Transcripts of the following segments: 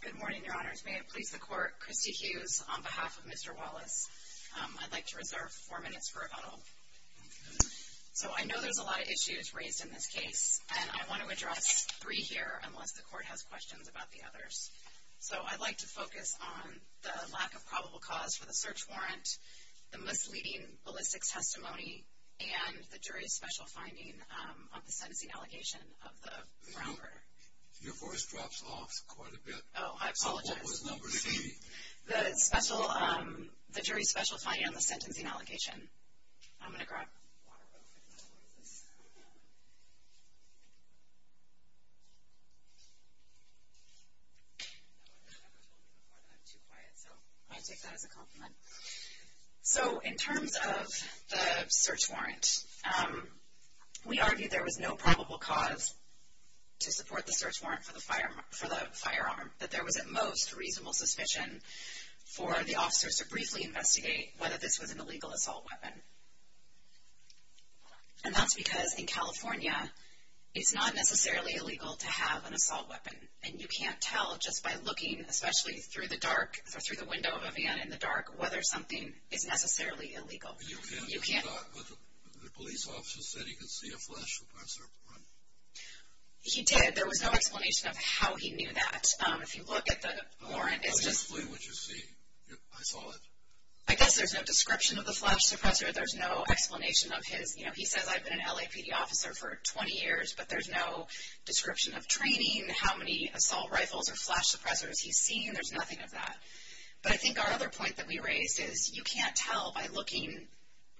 Good morning, Your Honors. May it please the Court, Christy Hughes, on behalf of Mr. Wallace. I'd like to reserve four minutes for rebuttal. So I know there's a lot of issues raised in this case, and I want to address three here, unless the Court has questions about the others. So I'd like to focus on the lack of probable cause for the search warrant, the misleading ballistics testimony, and the jury's special finding on the sentencing allegation of the Brown murder. Your voice drops off quite a bit. Oh, I apologize. So what was number three? The jury's special finding on the sentencing allegation. I'm going to grab a water bottle. So in terms of the search warrant, we argue there was no probable cause to support the search warrant for the firearm, but there was at most reasonable suspicion for the officers to briefly investigate whether this was an illegal assault weapon. And that's because in California, it's not necessarily illegal to have an assault weapon, and you can't tell just by looking, especially through the window of a van in the dark, whether something is necessarily illegal. But the police officer said he could see a flash of a search warrant. He did. There was no explanation of how he knew that. If you look at the warrant, it's just... I saw it. I guess there's no description of the flash suppressor. There's no explanation of his... He says, I've been an LAPD officer for 20 years, but there's no description of training, how many assault rifles or flash suppressors he's seen. There's nothing of that. But I think our other point that we raised is you can't tell by looking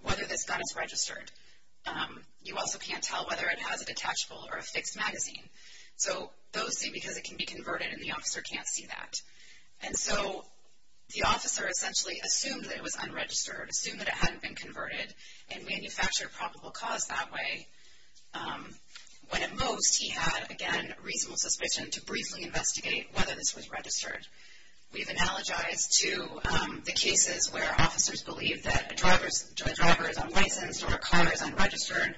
whether this gun is registered. You also can't tell whether it has a detachable or a fixed magazine. So those two, because it can be converted, and the officer can't see that. And so the officer essentially assumed that it was unregistered, assumed that it hadn't been converted, and manufactured a probable cause that way, when at most he had, again, reasonable suspicion to briefly investigate whether this was registered. We've analogized to the cases where officers believe that a driver is unlicensed or a car is unregistered,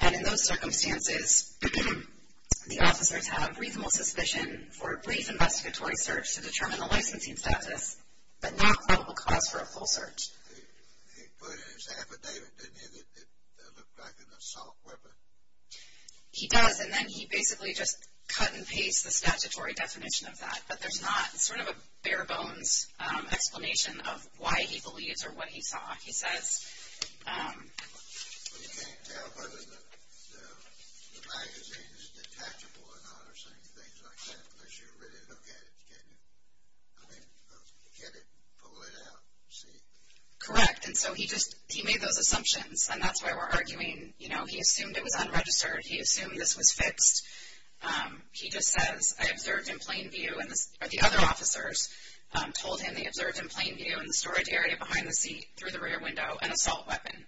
and in those circumstances, the officers have reasonable suspicion for a brief investigatory search to determine the licensing status, but not probable cause for a full search. He put it in his affidavit, didn't he, that it looked like an assault weapon? He does, and then he basically just cut and paste the statutory definition of that. But there's not sort of a bare-bones explanation of why he believes or what he saw. But you can't tell whether the magazine is detachable or not or things like that, unless you really look at it, can you? I mean, get it, pull it out, see. Correct. And so he made those assumptions, and that's why we're arguing, you know, he assumed it was unregistered. He assumed this was fixed. He just says, I observed in plain view, or the other officers told him they observed in plain view in the storage area behind the seat through the rear window, an assault weapon.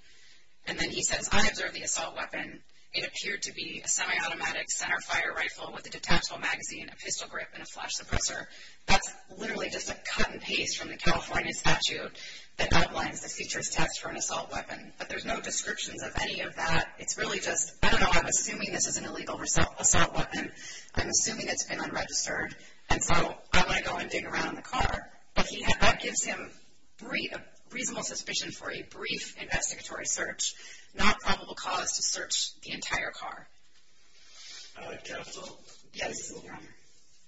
And then he says, I observed the assault weapon. It appeared to be a semi-automatic center fire rifle with a detachable magazine, a pistol grip, and a flash suppressor. That's literally just a cut and paste from the California statute that outlines the features test for an assault weapon. But there's no descriptions of any of that. It's really just, I don't know, I'm assuming this is an illegal assault weapon. I'm assuming it's been unregistered. And so I want to go and dig around in the car, but that gives him reasonable suspicion for a brief investigatory search, not probable cause to search the entire car. Counsel. Yes.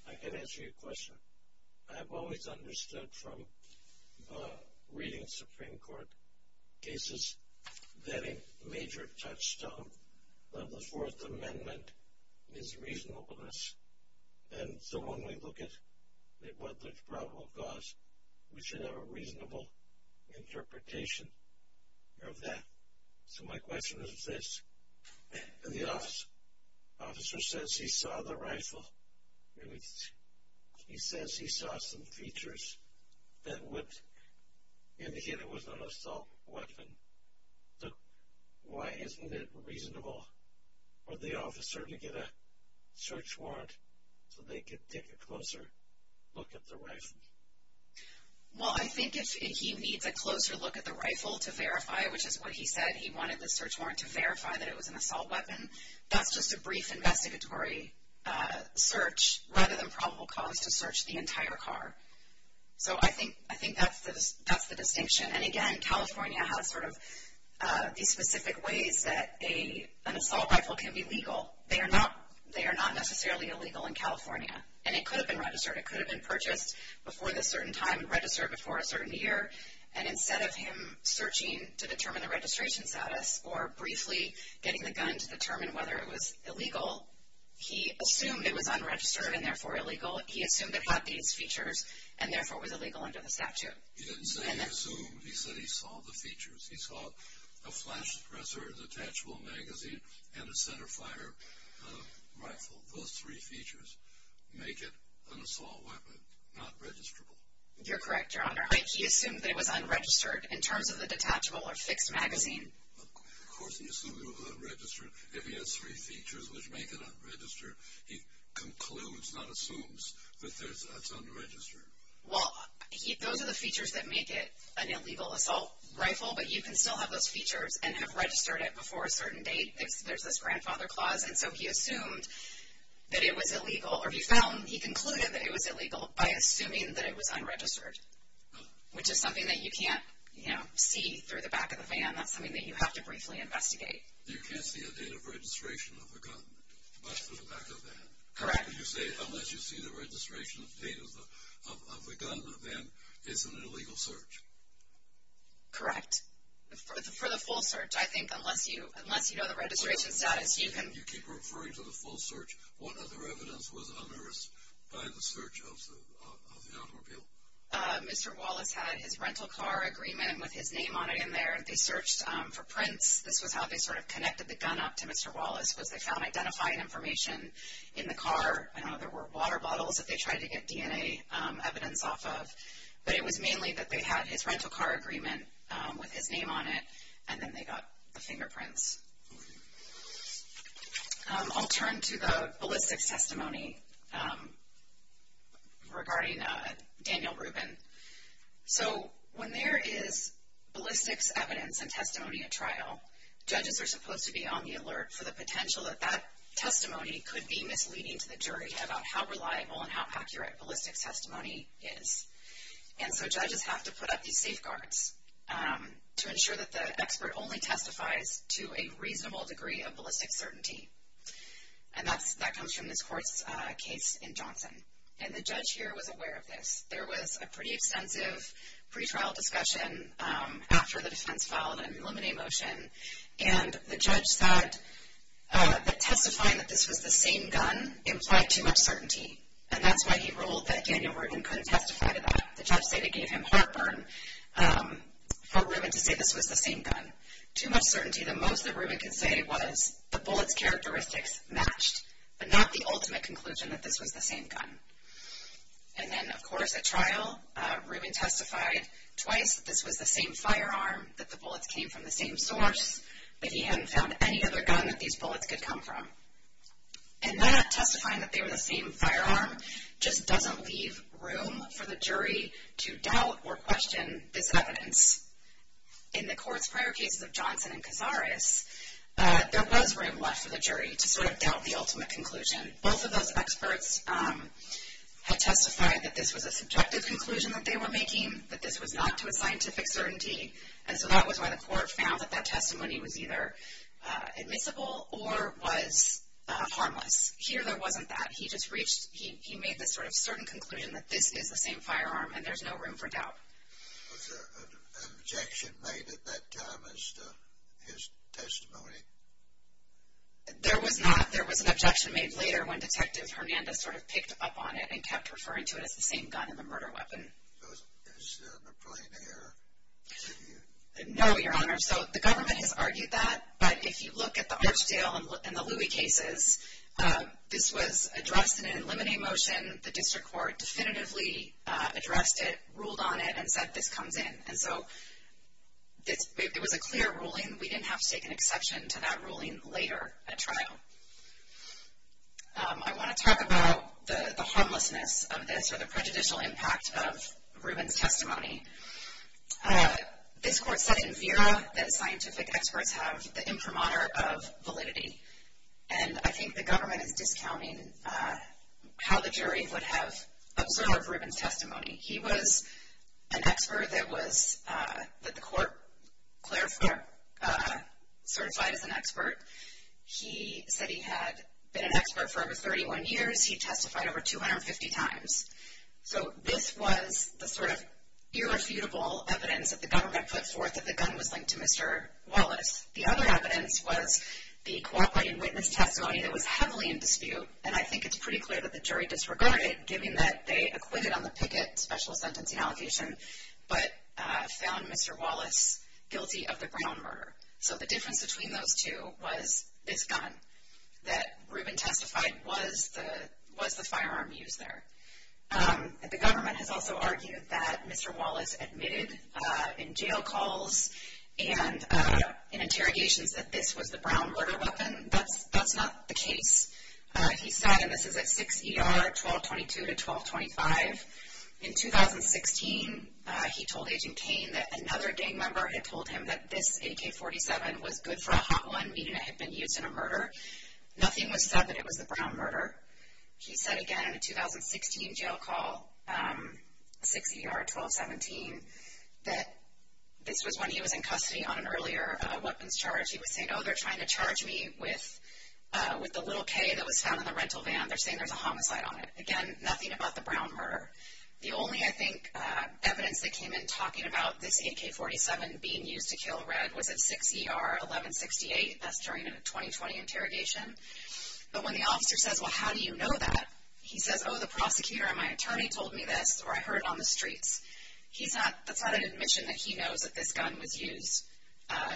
I can answer your question. I've always understood from reading Supreme Court cases that a major touchstone of the Fourth Amendment is reasonableness. And so when we look at what the probable cause, we should have a reasonable interpretation of that. So my question is this. The officer says he saw the rifle. He says he saw some features that would indicate it was an assault weapon. So why isn't it reasonable for the officer to get a search warrant so they could take a closer look at the rifle? Well, I think if he needs a closer look at the rifle to verify, which is what he said, he wanted the search warrant to verify that it was an assault weapon, that's just a brief investigatory search rather than probable cause to search the entire car. So I think that's the distinction. And, again, California has sort of these specific ways that an assault rifle can be legal. They are not necessarily illegal in California, and it could have been registered. It could have been purchased before this certain time and registered before a certain year. And instead of him searching to determine the registration status or briefly getting the gun to determine whether it was illegal, he assumed it was unregistered and, therefore, illegal. He assumed it had these features and, therefore, was illegal under the statute. He didn't say he assumed. He said he saw the features. He saw a flash suppressor, a detachable magazine, and a centerfire rifle. Those three features make it an assault weapon, not registrable. You're correct, Your Honor. He assumed that it was unregistered in terms of the detachable or fixed magazine. Of course he assumed it was unregistered. If he has three features which make it unregistered, he concludes, not assumes, that it's unregistered. Well, those are the features that make it an illegal assault rifle, but you can still have those features and have registered it before a certain date. There's this grandfather clause, and so he assumed that it was illegal. Or if he found, he concluded that it was illegal by assuming that it was unregistered, which is something that you can't see through the back of the van. That's something that you have to briefly investigate. You can't see a date of registration of a gun, but through the back of the van. Correct. Unless you see the registration date of the gun, then it's an illegal search. Correct. For the full search, I think, unless you know the registration status, you can... You keep referring to the full search. What other evidence was unearthed by the search of the automobile? Mr. Wallace had his rental car agreement with his name on it in there. They searched for prints. This was how they sort of connected the gun up to Mr. Wallace was they found identifying information in the car. I don't know if there were water bottles that they tried to get DNA evidence off of, but it was mainly that they had his rental car agreement with his name on it, and then they got the fingerprints. I'll turn to the ballistics testimony regarding Daniel Rubin. Judges are supposed to be on the alert for the potential that that testimony could be misleading to the jury about how reliable and how accurate ballistics testimony is. And so judges have to put up these safeguards to ensure that the expert only testifies to a reasonable degree of ballistics certainty. And that comes from this court's case in Johnson. And the judge here was aware of this. There was a pretty extensive pretrial discussion after the defense filed an eliminate motion, and the judge said that testifying that this was the same gun implied too much certainty. And that's why he ruled that Daniel Rubin couldn't testify to that. The judge said it gave him heartburn for Rubin to say this was the same gun. Too much certainty, the most that Rubin could say was the bullet's characteristics matched, but not the ultimate conclusion that this was the same gun. And then, of course, at trial, Rubin testified twice that this was the same firearm, that the bullets came from the same source, but he hadn't found any other gun that these bullets could come from. And that, testifying that they were the same firearm, just doesn't leave room for the jury to doubt or question this evidence. In the court's prior cases of Johnson and Cazares, there was room left for the jury to sort of doubt the ultimate conclusion. Both of those experts had testified that this was a subjective conclusion that they were making, that this was not to a scientific certainty, and so that was why the court found that that testimony was either admissible or was harmless. Here, there wasn't that. He just reached, he made this sort of certain conclusion that this is the same firearm, and there's no room for doubt. Was there an objection made at that time as to his testimony? There was not. There was an objection made later when Detective Hernandez sort of picked up on it and kept referring to it as the same gun in the murder weapon. Is there an applying error? No, Your Honor. So the government has argued that, but if you look at the Archdale and the Louis cases, this was addressed in an eliminate motion. The district court definitively addressed it, ruled on it, and said this comes in. And so it was a clear ruling. We didn't have to take an exception to that ruling later at trial. I want to talk about the harmlessness of this or the prejudicial impact of Rubin's testimony. This court said in Vera that scientific experts have the imprimatur of validity, and I think the government is discounting how the jury would have observed Rubin's testimony. He was an expert that the court clarified certified as an expert. He said he had been an expert for over 31 years. He testified over 250 times. So this was the sort of irrefutable evidence that the government put forth that the gun was linked to Mr. Wallace. The other evidence was the cooperating witness testimony that was heavily in dispute, and I think it's pretty clear that the jury disregarded it, given that they acquitted on the Pickett special sentencing allegation but found Mr. Wallace guilty of the Brown murder. So the difference between those two was this gun, that Rubin testified was the firearm used there. The government has also argued that Mr. Wallace admitted in jail calls and in interrogations that this was the Brown murder weapon. That's not the case. He said, and this is at 6 ER 1222 to 1225, in 2016 he told Agent Kane that another gang member had told him that this AK-47 was good for a hot one, meaning it had been used in a murder. Nothing was said that it was the Brown murder. He said again in a 2016 jail call, 6 ER 1217, that this was when he was in custody on an earlier weapons charge. He was saying, oh, they're trying to charge me with the little K that was found in the rental van. They're saying there's a homicide on it. Again, nothing about the Brown murder. The only, I think, evidence that came in talking about this AK-47 being used to kill Red was at 6 ER 1168. That's during a 2020 interrogation. But when the officer says, well, how do you know that? He says, oh, the prosecutor and my attorney told me this, or I heard it on the streets. That's not an admission that he knows that this gun was used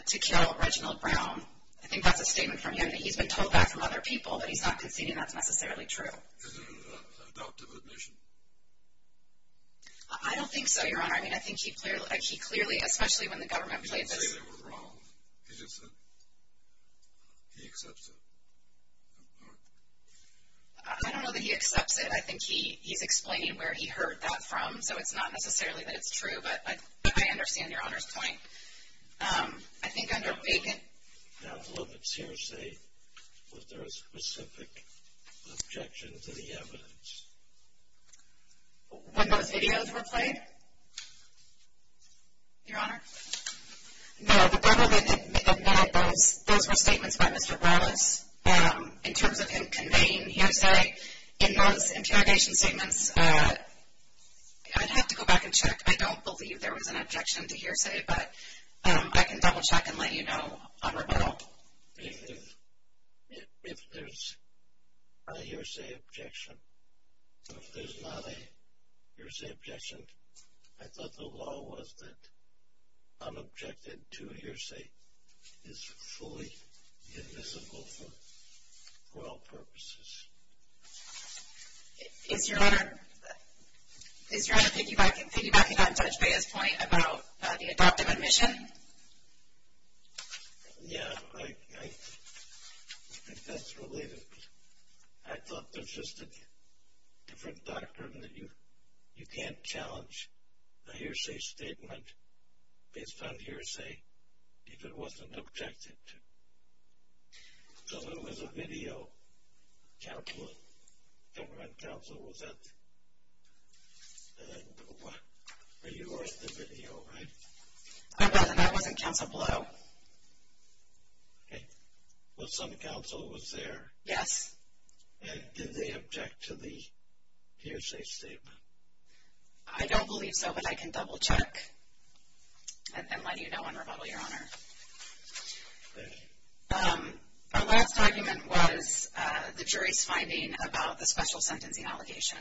to kill Reginald Brown. I think that's a statement from him that he's been told that from other people, but he's not conceding that's necessarily true. Is it an adoptive admission? I don't think so, Your Honor. I mean, I think he clearly, especially when the government played this. He didn't say they were wrong. He just said he accepts it. I don't know that he accepts it. I think he's explaining where he heard that from, so it's not necessarily that it's true, but I understand Your Honor's point. I think under vacant envelopments, hearsay, was there a specific objection to the evidence? When those videos were played, Your Honor? No, the government admitted those were statements by Mr. Brown in terms of him conveying hearsay. In those interrogation statements, I'd have to go back and check. I don't believe there was an objection to hearsay, but I can double-check and let you know on rebuttal. If there's a hearsay objection or if there's not a hearsay objection, I thought the law was that I'm objected to a hearsay. It's fully admissible for all purposes. Is Your Honor thinking back to Judge Bea's point about the adoptive admission? Yeah, I think that's related. I thought there's just a different doctrine that you can't challenge a hearsay statement based on hearsay if it wasn't objected to. So there was a video. Council, government council, was that? You watched the video, right? No, that was in Council below. Okay. Well, some council was there. Yes. And did they object to the hearsay statement? I don't believe so, but I can double-check and let you know on rebuttal, Your Honor. Thank you. Our last argument was the jury's finding about the special sentencing allegation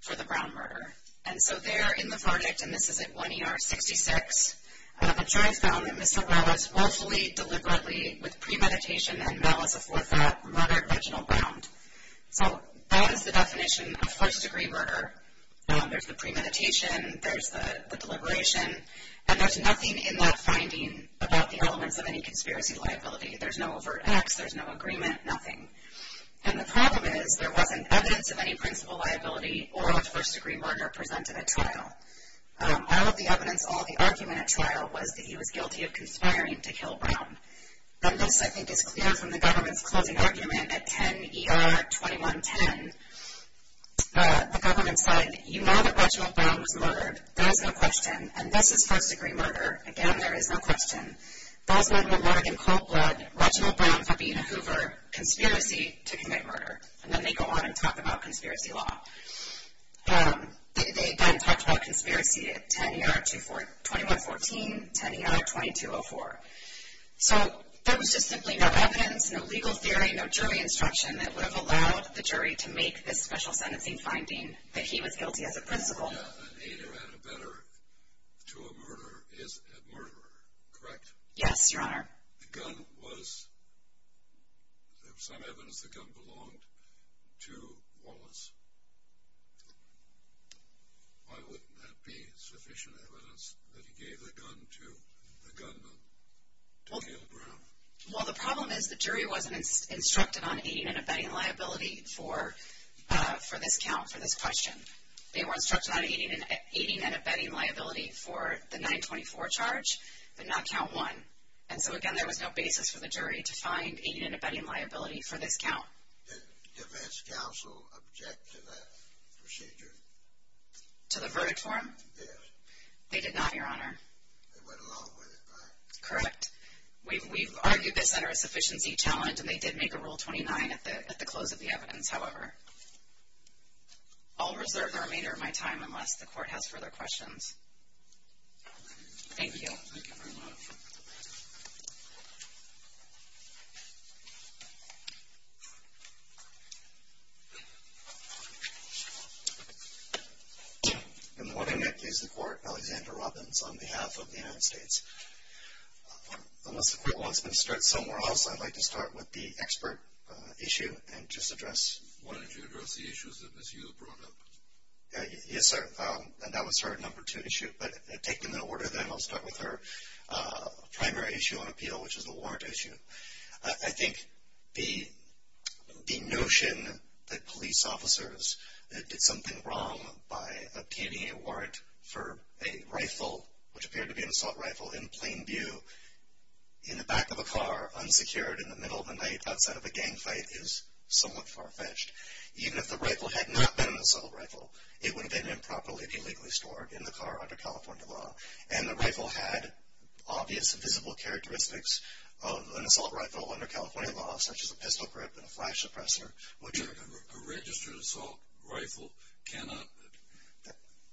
for the Brown murder. And so there in the project, and this is at 1 ER 66, the jury found that Ms. Sabralos willfully, deliberately, with premeditation, and malice aforethought, murdered Reginald Brown. So that is the definition of first-degree murder. There's the premeditation. There's the deliberation. And there's nothing in that finding about the elements of any conspiracy liability. There's no overt acts. There's no agreement. Nothing. And the problem is there wasn't evidence of any principal liability or of first-degree murder presented at trial. All of the evidence, all of the argument at trial, was that he was guilty of conspiring to kill Brown. And this, I think, is clear from the government's closing argument at 10 ER 2110. The government said, You know that Reginald Brown was murdered. There is no question. And this is first-degree murder. Again, there is no question. Those men were murdered in cold blood. Reginald Brown, Fabina Hoover. Conspiracy to commit murder. And then they go on and talk about conspiracy law. They then talked about conspiracy at 10 ER 2114, 10 ER 2204. So there was just simply no evidence, no legal theory, no jury instruction that would have allowed the jury to make this special sentencing finding that he was guilty as a principal. A murder is a murder, correct? Yes, Your Honor. The gun was, there was some evidence the gun belonged to Wallace. Why wouldn't that be sufficient evidence that he gave the gun to the gunman to kill Brown? Well, the problem is the jury wasn't instructed on aiding and abetting liability for this count, for this question. They were instructed on aiding and abetting liability for the 924 charge but not count 1. And so, again, there was no basis for the jury to find aiding and abetting liability for this count. Did defense counsel object to that procedure? To the verdict form? Yes. They did not, Your Honor. They went along with it, right? Correct. We've argued this under a sufficiency challenge, and they did make a Rule 29 at the close of the evidence, however. I'll reserve the remainder of my time unless the court has further questions. Thank you. Thank you very much. Good morning. I accuse the court, Alexander Robbins, on behalf of the United States. Unless the court wants me to start somewhere else, I'd like to start with the expert issue and just address. Why don't you address the issues that Ms. Yu brought up? Yes, sir. And that was her number two issue. But take them in order then. I'll start with her primary issue on appeal, which is the warrant issue. I think the notion that police officers did something wrong by obtaining a warrant for a rifle, which appeared to be an assault rifle, in plain view, in the back of a car, unsecured, in the middle of the night, outside of a gang fight, is somewhat far-fetched. Even if the rifle had not been an assault rifle, it would have been improperly, illegally stored in the car under California law. And the rifle had obvious, visible characteristics of an assault rifle under California law, such as a pistol grip and a flash suppressor. A registered assault rifle cannot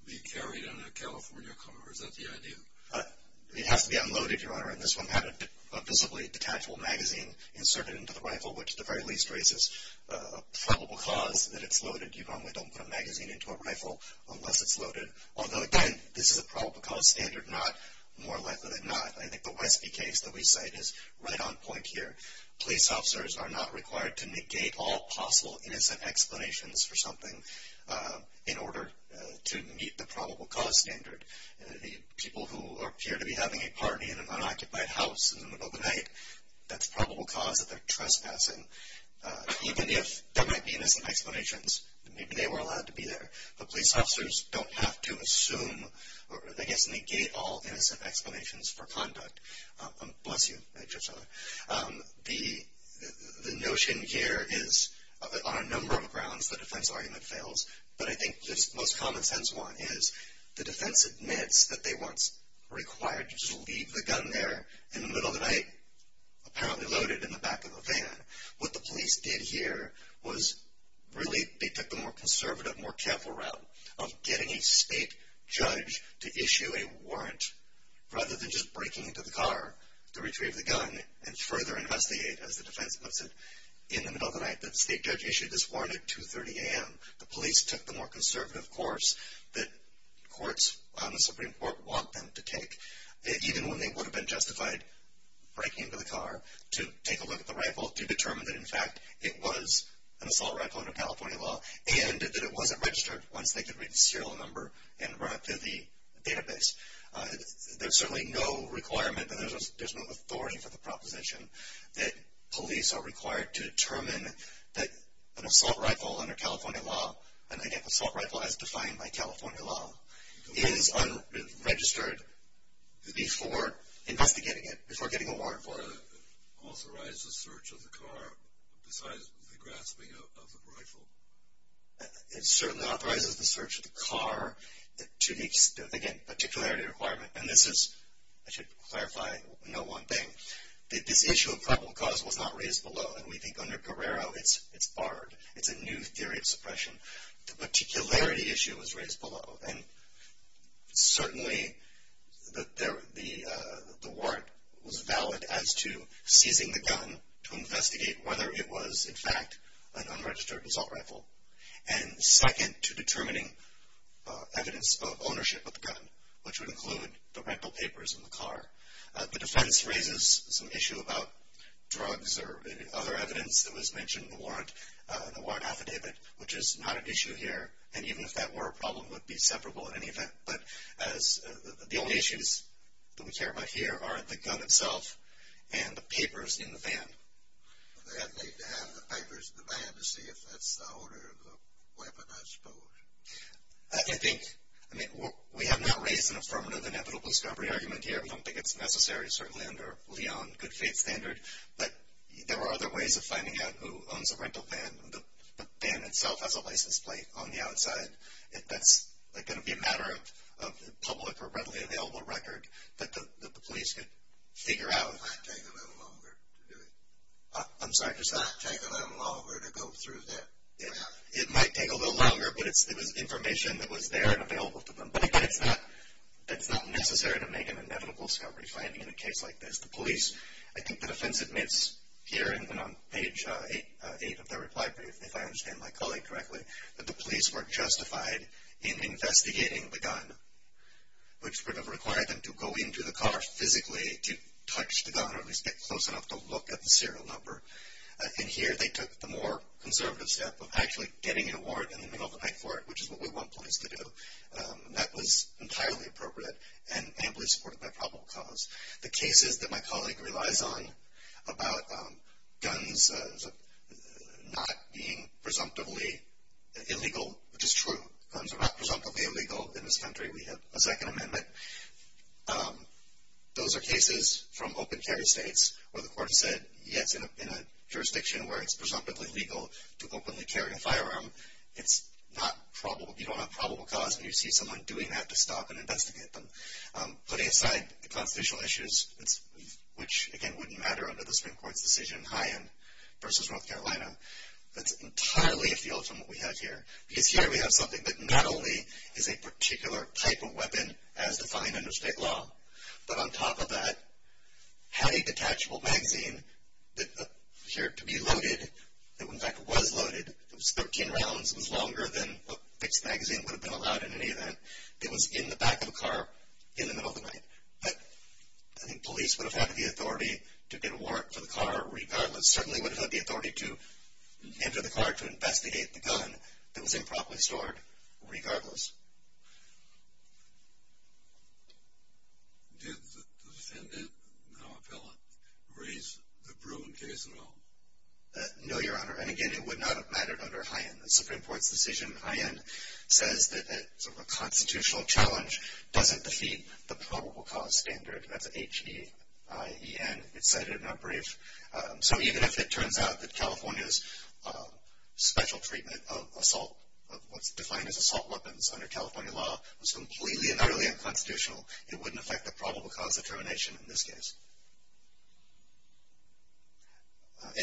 be carried in a California car. Is that the idea? It has to be unloaded, Your Honor. And this one had a visibly detachable magazine inserted into the rifle, which at the very least raises a probable cause that it's loaded. You normally don't put a magazine into a rifle unless it's loaded. Although, again, this is a probable cause standard, not more likely than not. I think the Westby case that we cite is right on point here. Police officers are not required to negate all possible innocent explanations for something in order to meet the probable cause standard. People who appear to be having a party in an unoccupied house in the middle of the night, that's a probable cause that they're trespassing. Even if there might be innocent explanations, maybe they were allowed to be there. But police officers don't have to assume or, I guess, negate all innocent explanations for conduct. Bless you, Judge O'Sullivan. The notion here is, on a number of grounds, the defense argument fails, but I think the most common sense one is the defense admits that they weren't required to just leave the gun there in the middle of the night, apparently loaded in the back of a van. What the police did here was really they took the more conservative, more careful route of getting a state judge to issue a warrant rather than just breaking into the car to retrieve the gun and further investigate, as the defense puts it, in the middle of the night. The state judge issued this warrant at 2.30 a.m. The police took the more conservative course that courts on the Supreme Court want them to take. Even when they would have been justified breaking into the car to take a look at the rifle to determine that, in fact, it was an assault rifle under California law and that it wasn't registered once they could read the serial number and run it through the database. There's certainly no requirement and there's no authority for the proposition that police are required to determine that an assault rifle under California law, an assault rifle as defined by California law, is unregistered before investigating it, before getting a warrant for it. It authorizes the search of the car besides the grasping of the rifle. It certainly authorizes the search of the car to the, again, particularity requirement, and this is, I should clarify no one thing, that this issue of probable cause was not raised below and we think under Guerrero it's barred. It's a new theory of suppression. The particularity issue was raised below and certainly the warrant was valid as to seizing the gun to investigate whether it was, in fact, an unregistered assault rifle and second to determining evidence of ownership of the gun, which would include the rental papers in the car. The defense raises some issue about drugs or other evidence that was mentioned in the warrant affidavit, which is not an issue here and even if that were a problem it would be separable in any event, but the only issues that we care about here are the gun itself and the papers in the van. They'd need to have the papers in the van to see if that's the owner of the weapon, I suppose. I think, I mean, we have not raised an affirmative inevitable discovery argument here. I don't think it's necessary, certainly under Leon, good faith standard, but there are other ways of finding out who owns a rental van. The van itself has a license plate on the outside. That's going to be a matter of public or readily available record that the police could figure out. It might take a little longer to do it. I'm sorry. It might take a little longer to go through that. It might take a little longer, but it was information that was there and available to them, but it's not necessary to make an inevitable discovery finding in a case like this. The police, I think the defense admits here and on page 8 of their reply brief, if I understand my colleague correctly, that the police were justified in investigating the gun, which would have required them to go into the car physically to touch the gun or at least get close enough to look at the serial number. And here they took the more conservative step of actually getting a warrant in the middle of the night for it, which is what we want police to do. That was entirely appropriate and amply supported by probable cause. The cases that my colleague relies on about guns not being presumptively illegal, which is true. Guns are not presumptively illegal in this country. We have a Second Amendment. Those are cases from open carry states where the court said, yes, in a jurisdiction where it's presumptively legal to openly carry a firearm, it's not probable. You don't have probable cause when you see someone doing that to stop and investigate them. Putting aside the constitutional issues, which, again, wouldn't matter under the Supreme Court's decision in High End versus North Carolina, that's entirely a field from what we have here. Because here we have something that not only is a particular type of weapon as defined under state law, but on top of that had a detachable magazine that appeared to be loaded, that in fact was loaded, it was 13 rounds, it was longer than a fixed magazine would have been allowed in any event. It was in the back of the car in the middle of the night. But I think police would have had the authority to get a warrant for the car regardless. Certainly would have had the authority to enter the car to investigate the gun that was improperly stored regardless. Did the defendant, now appellant, raise the proven case at all? No, Your Honor. And again, it would not have mattered under High End. The Supreme Court's decision in High End says that a constitutional challenge doesn't defeat the probable cause standard. That's H-E-I-E-N. It said it in our brief. So even if it turns out that California's special treatment of assault, of what's defined as assault weapons under California law, was completely and utterly unconstitutional, it wouldn't affect the probable cause determination in this case.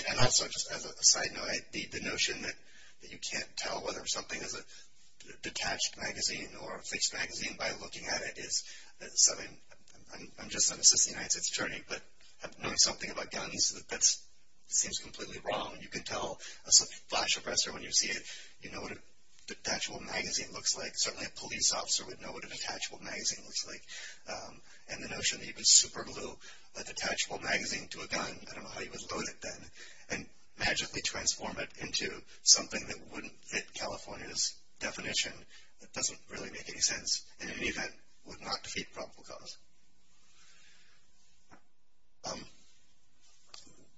And also, just as a side note, the notion that you can't tell whether something is a detached magazine or a fixed magazine by looking at it is something, I'm just an assistant United States Attorney, but knowing something about guns, that seems completely wrong. You can tell a flash suppressor when you see it. You know what a detachable magazine looks like. Certainly a police officer would know what a detachable magazine looks like. And the notion that you can superglue a detachable magazine to a gun, I don't know how you would load it then, and magically transform it into something that wouldn't fit California's definition, doesn't really make any sense. And in any event, would not defeat probable cause.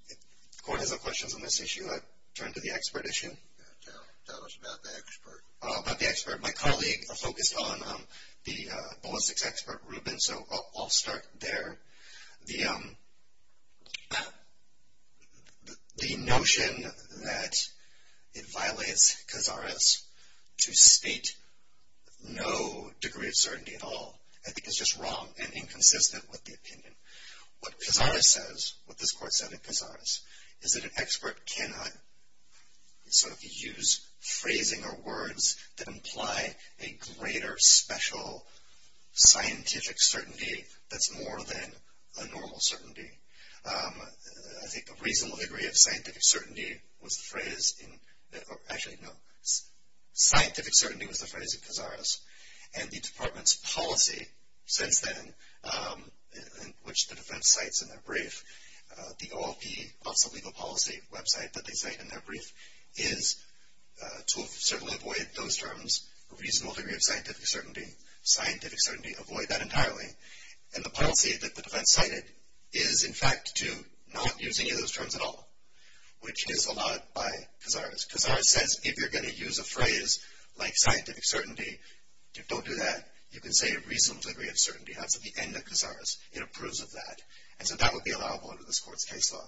The court has no questions on this issue. I'll turn to the expert issue. Tell us about the expert. About the expert. My colleague focused on the ballistics expert, Ruben, so I'll start there. The notion that it violates Cazares to state no degree of certainty at all, I think is just wrong and inconsistent with the opinion. What Cazares says, what this court said at Cazares, is that an expert cannot, so if you use phrasing or words that imply a greater special scientific certainty, that's more than a normal certainty. I think a reasonable degree of scientific certainty was the phrase in, actually no, scientific certainty was the phrase in Cazares. And the department's policy since then, which the defense cites in their brief, the OLP, Office of Legal Policy website that they cite in their brief, is to certainly avoid those terms, a reasonable degree of scientific certainty, scientific certainty, avoid that entirely. And the policy that the defense cited is, in fact, to not use any of those terms at all, which is allowed by Cazares. Cazares says if you're going to use a phrase like scientific certainty, don't do that. You can say a reasonable degree of certainty. That's at the end of Cazares. It approves of that. And so that would be allowable under this court's case law.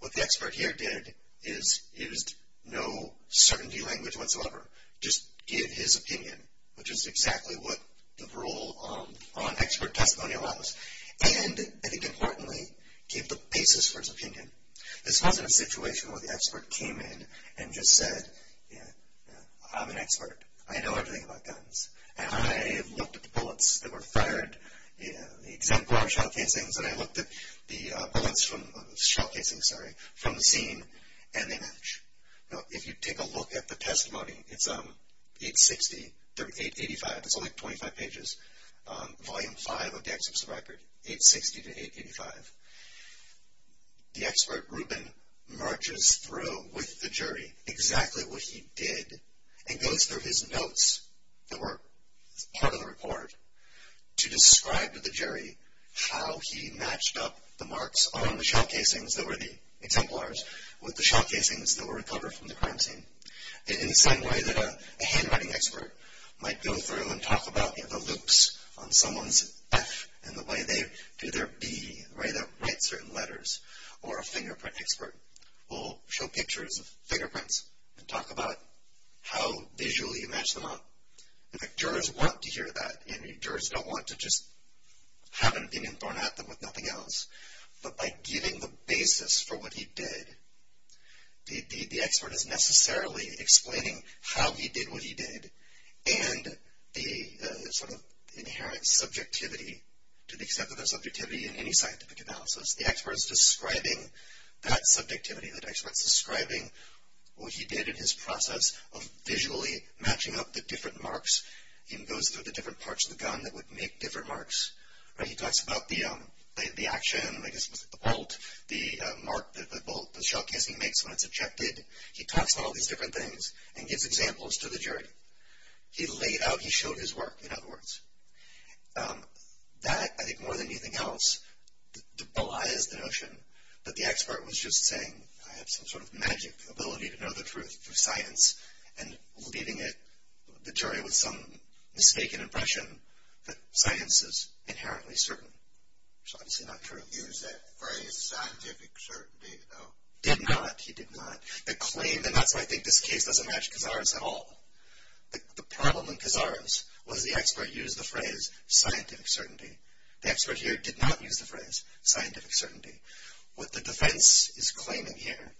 What the expert here did is used no certainty language whatsoever. Just give his opinion, which is exactly what the rule on expert testimony allows. And, I think importantly, gave the basis for his opinion. This wasn't a situation where the expert came in and just said, you know, I'm an expert. I know everything about guns. And I looked at the bullets that were fired. The exemplar shell casings, and I looked at the bullets from shell casings, sorry, from the scene, and they match. Now, if you take a look at the testimony, it's 860 through 885. It's only 25 pages. Volume 5 of the expert's record, 860 to 885. The expert, Rubin, marches through with the jury exactly what he did and goes through his notes that were part of the report to describe to the jury how he matched up the marks on the shell casings that were the exemplars with the shell casings that were recovered from the crime scene. In the same way that a handwriting expert might go through and talk about the loops on someone's F and the way they do their B, the way they write certain letters. Or a fingerprint expert will show pictures of fingerprints and talk about how visually you match them up. In fact, jurors want to hear that, and jurors don't want to just have an opinion thrown at them with nothing else. But by giving the basis for what he did, the expert is necessarily explaining how he did what he did and the sort of inherent subjectivity, to the extent that there's subjectivity in any scientific analysis. The expert is describing that subjectivity. The expert is describing what he did in his process of visually matching up the different marks. He goes through the different parts of the gun that would make different marks. He talks about the action, the bolt, the mark that the bolt, the shell casing makes when it's ejected. He talks about all these different things and gives examples to the jury. He laid out, he showed his work, in other words. That, I think, more than anything else, belies the notion that the expert was just saying, I have some sort of magic ability to know the truth through science, and leaving it, the jury, with some mistaken impression that science is inherently certain. Which is obviously not true. He used that phrase, scientific certainty, though. Did not. He did not. The claim, and that's why I think this case doesn't match Kazar's at all. The problem in Kazar's was the expert used the phrase, scientific certainty. The expert here did not use the phrase, scientific certainty. What the defense is claiming here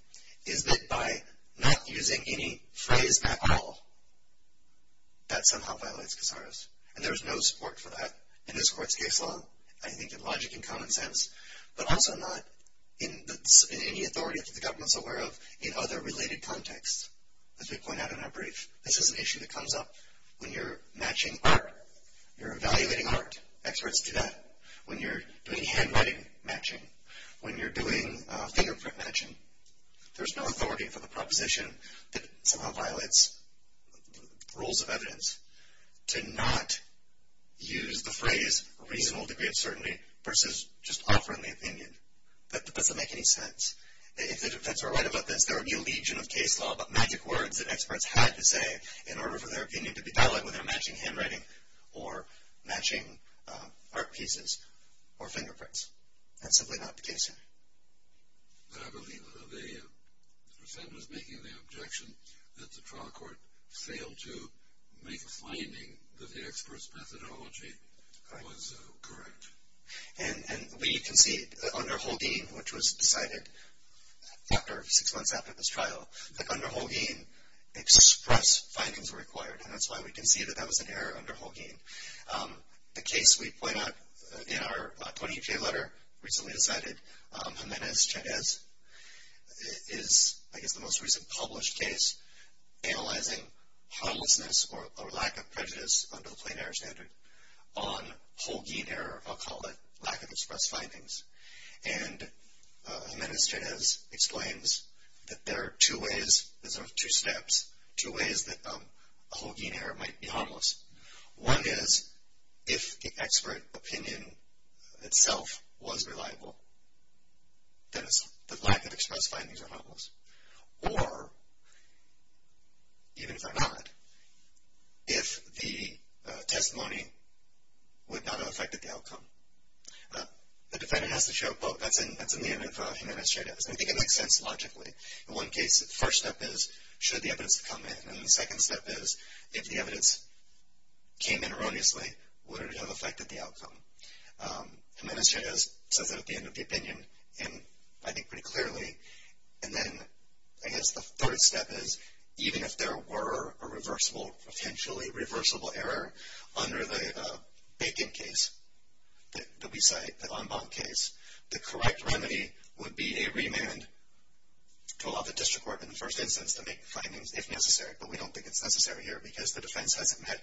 is that by not using any phrase at all, that somehow violates Kazar's. And there is no support for that in this court's case law, I think in logic and common sense, but also not in any authority that the government is aware of in other related contexts, as we point out in our brief. This is an issue that comes up when you're matching art. You're evaluating art. Experts do that. When you're doing handwriting matching. When you're doing fingerprint matching. There's no authority for the proposition that somehow violates the rules of evidence to not use the phrase, reasonable degree of certainty, versus just offering the opinion. That doesn't make any sense. If the defense were right about this, there would be a legion of case law about magic words that experts had to say in order for their opinion to be dialogued with their matching handwriting or matching art pieces or fingerprints. That's simply not the case here. I believe that the defendant is making the objection that the trial court failed to make a finding that the expert's methodology was correct. And we concede under Holdeen, which was decided six months after this trial, that under Holdeen, express findings were required, and that's why we concede that that was an error under Holdeen. The case we point out in our 20-page letter, recently decided, Jimenez-Chernez is, I guess, the most recent published case analyzing homelessness or lack of prejudice under the plain error standard on Holdeen error, I'll call it, lack of express findings. And Jimenez-Chernez explains that there are two ways, there's sort of two steps, two ways that a Holdeen error might be harmless. One is if the expert opinion itself was reliable, then the lack of express findings are harmless. Or, even if they're not, if the testimony would not have affected the outcome. The defendant has to show a quote, that's in the end of Jimenez-Chernez, and I think it makes sense logically. In one case, the first step is, should the evidence have come in? And the second step is, if the evidence came in erroneously, would it have affected the outcome? Jimenez-Chernez says that at the end of the opinion, and I think pretty clearly. And then, I guess the third step is, even if there were a reversible, potentially reversible error under the bacon case that we cite, the en banc case, the correct remedy would be a remand to allow the district court, in the first instance, to make findings, if necessary. But we don't think it's necessary here, because the defense hasn't met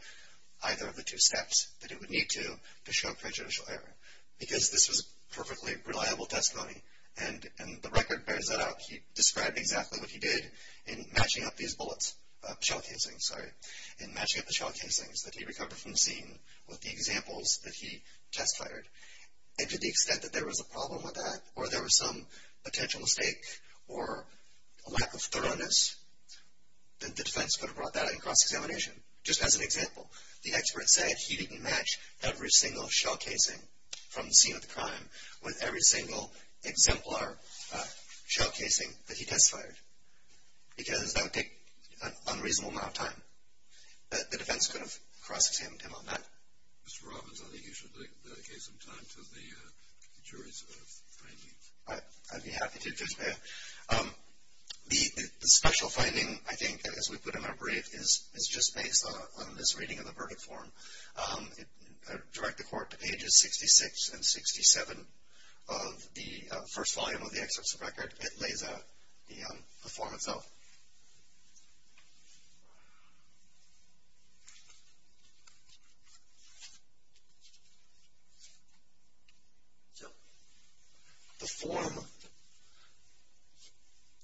either of the two steps that it would need to, to show prejudicial error. Because this was perfectly reliable testimony, and the record bears that out. He described exactly what he did in matching up these bullets, shell casings, sorry, in matching up the shell casings that he recovered from the scene, with the examples that he test fired. And to the extent that there was a problem with that, or there was some potential mistake, or a lack of thoroughness, the defense could have brought that in cross-examination. Just as an example, the expert said he didn't match every single shell casing from the scene of the crime with every single exemplar shell casing that he test fired. Because that would take an unreasonable amount of time. The defense could have cross-examined him on that. Mr. Robbins, I think you should dedicate some time to the jury's findings. I'd be happy to do that. The special finding, I think, as we put in our brief, is just based on this reading of the verdict form. I direct the court to pages 66 and 67 of the first volume of the expert's record. It lays out the form itself. The form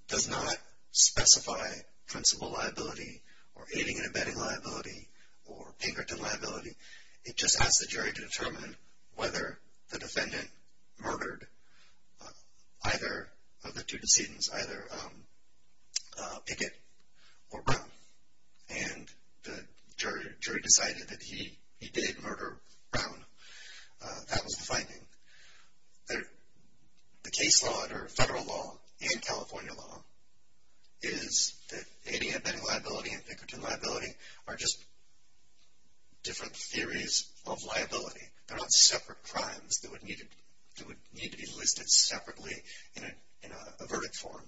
does not specify principal liability, or aiding and abetting liability, or Pinkerton liability. It just asks the jury to determine whether the defendant murdered either of the two decedents, which is either Pickett or Brown. The jury decided that he did murder Brown. That was the finding. The case law, or federal law, and California law, is that aiding and abetting liability and Pinkerton liability are just different theories of liability. They're not separate crimes that would need to be listed separately in a verdict form.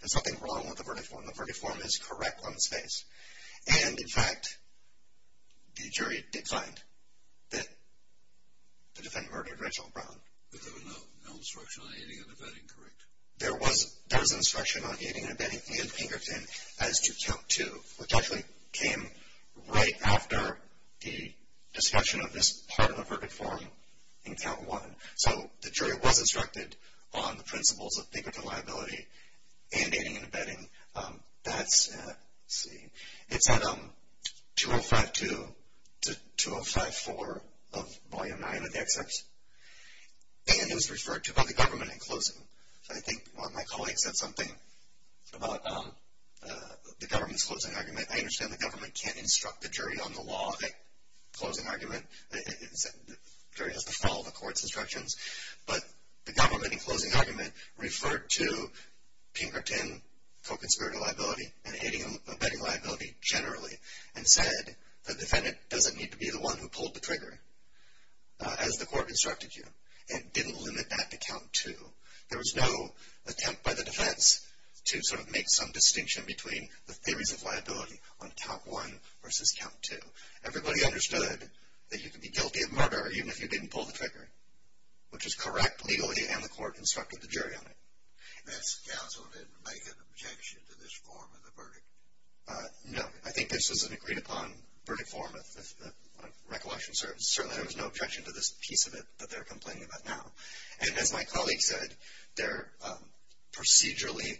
There's nothing wrong with a verdict form. A verdict form is correct on its face. And, in fact, the jury did find that the defendant murdered Rachel Brown. But there was no instruction on aiding and abetting, correct? There was instruction on aiding and abetting and Pinkerton as to count two, which actually came right after the discussion of this part of a verdict form in count one. So the jury was instructed on the principles of Pinkerton liability and aiding and abetting. It's at 2052 to 2054 of Volume 9 of the excerpt. And it was referred to by the government in closing. So I think one of my colleagues said something about the government's closing argument. I understand the government can't instruct the jury on the law in closing argument. The jury has to follow the court's instructions. But the government in closing argument referred to Pinkerton co-conspirator liability and aiding and abetting liability generally and said the defendant doesn't need to be the one who pulled the trigger, as the court instructed you. And it didn't limit that to count two. There was no attempt by the defense to sort of make some distinction between the theories of liability on count one versus count two. Everybody understood that you could be guilty of murder even if you didn't pull the trigger, which was correct legally and the court instructed the jury on it. And that counsel didn't make an objection to this form of the verdict? No. I think this was an agreed-upon verdict form of recollection service. Certainly there was no objection to this piece of it that they're complaining about now. And as my colleague said, procedurally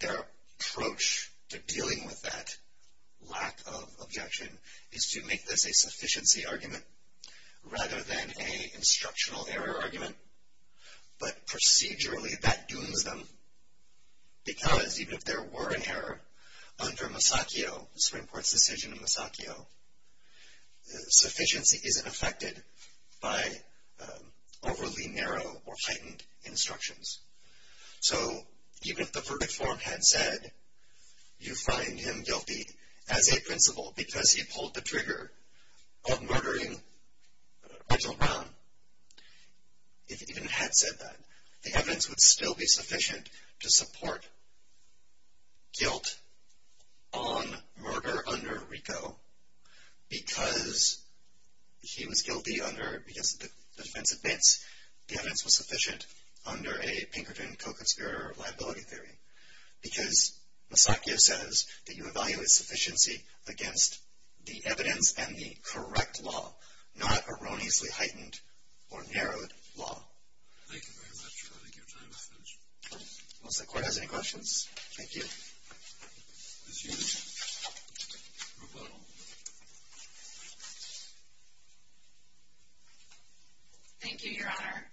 their approach to dealing with that lack of objection is to make this a sufficiency argument rather than an instructional error argument. But procedurally that dooms them because even if there were an error under Masacchio, the Supreme Court's decision in Masacchio, sufficiency isn't affected by overly narrow or heightened instructions. So even if the verdict form had said you find him guilty as a principal because he pulled the trigger of murdering Reginald Brown, if it even had said that, the evidence would still be sufficient to support guilt on murder under Rico because he was guilty under, because the defense admits the evidence was sufficient under a Pinkerton co-conspirator liability theory. Because Masacchio says that you evaluate sufficiency against the evidence and the correct law, not erroneously heightened or narrowed law. Thank you very much. I think your time is finished. Once the Court has any questions. Thank you. Ms. Hughes. Roboto. Thank you, Your Honor.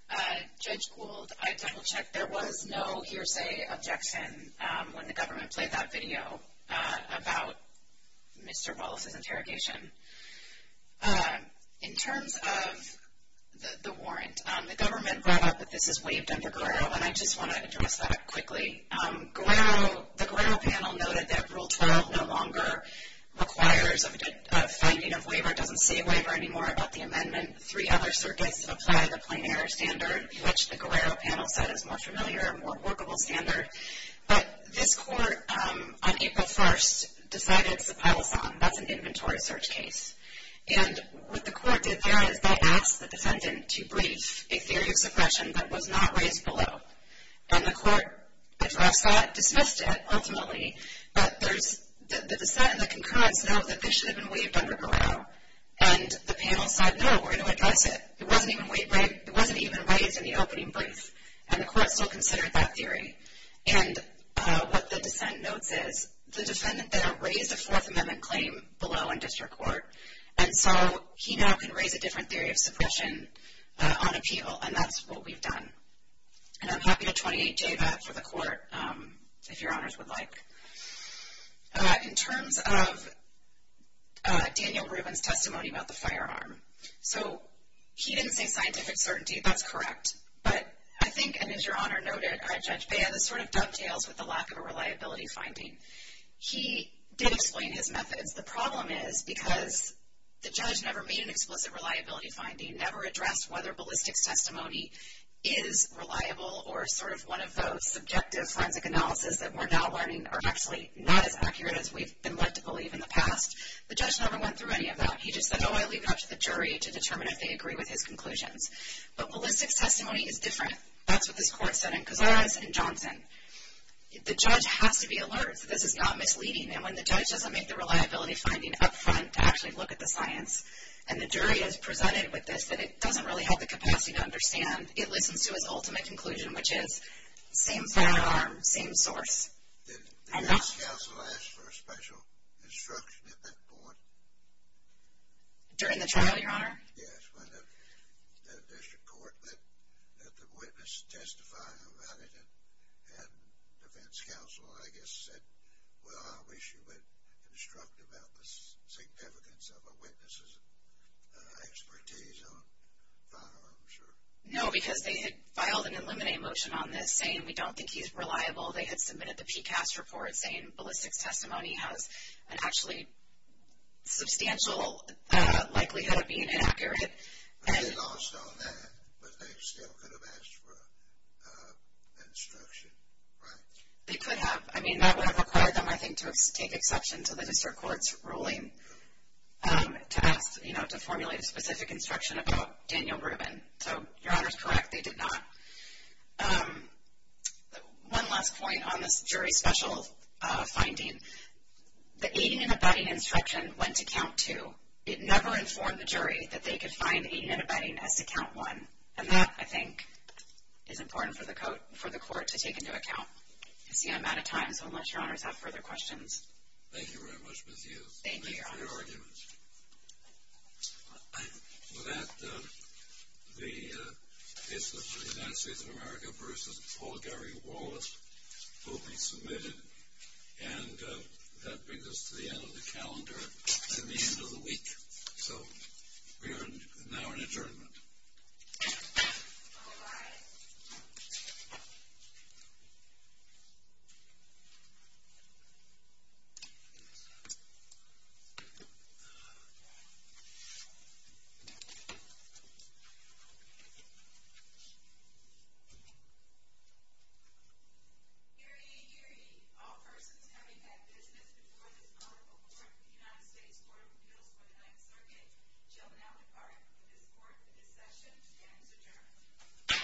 Judge Gould, I double-checked. There was no hearsay objection when the government played that video about Mr. Wallace's interrogation. In terms of the warrant, the government brought up that this is waived under Guerrero, and I just want to address that quickly. Guerrero, the Guerrero panel noted that Rule 12 no longer requires a finding of waiver, doesn't say waiver anymore about the amendment. Three other circuits apply the plenary standard, which the Guerrero panel said is more familiar and more workable standard. But this Court, on April 1st, decided Zappellasan, that's an inventory search case. And what the Court did there is they asked the defendant to brief a theory of suppression that was not raised below. And the Court addressed that, dismissed it ultimately. But the dissent and the concurrence know that this should have been waived under Guerrero. And the panel said, no, we're going to address it. It wasn't even raised in the opening brief, and the Court still considered that theory. And what the dissent notes is the defendant there raised a Fourth Amendment claim below in district court, and so he now can raise a different theory of suppression on appeal, and that's what we've done. And I'm happy to 28-J that for the Court, if Your Honors would like. In terms of Daniel Rubin's testimony about the firearm, so he didn't say scientific certainty. That's correct. But I think, and as Your Honor noted, Judge Baez sort of dovetails with the lack of a reliability finding. He did explain his methods. The problem is because the judge never made an explicit reliability finding, never addressed whether ballistics testimony is reliable or sort of one of those subjective forensic analysis that we're now learning are actually not as accurate as we've been led to believe in the past. The judge never went through any of that. He just said, oh, I'll leave it up to the jury to determine if they agree with his conclusions. But ballistics testimony is different. That's what this Court said in Cazares and Johnson. The judge has to be alert that this is not misleading, and when the judge doesn't make the reliability finding up front to actually look at the science, and the jury is presented with this, then it doesn't really have the capacity to understand. It listens to its ultimate conclusion, which is same firearm, same source. Did the defense counsel ask for a special instruction at that point? During the trial, Your Honor? Yes, when the district court let the witness testify about it, and defense counsel, I guess, said, well, I wish you would instruct about the significance of a witness' expertise on firearms. No, because they had filed an eliminate motion on this saying we don't think he's reliable. They had submitted the PCAST report saying ballistics testimony has an actually substantial likelihood of being inaccurate. They lost on that, but they still could have asked for instruction, right? They could have. I mean, that would have required them, I think, to take exception to the district court's ruling to formulate a specific instruction about Daniel Rubin. So Your Honor is correct. They did not. One last point on this jury special finding. The aiding and abetting instruction went to count two. It never informed the jury that they could find aiding and abetting as to count one, and that, I think, is important for the court to take into account. I see I'm out of time, so unless Your Honor has further questions. Thank you very much, Ms. Hughes. Thank you, Your Honor. No further arguments. With that, the case of the United States of America v. Paul Gary Wallace will be submitted, and that brings us to the end of the calendar and the end of the week. So we are now in adjournment. All rise. Gary, Gary, all persons having had business before this court or before the United States Court of Appeals for the Ninth Circuit shall now depart from this court for this session and is adjourned.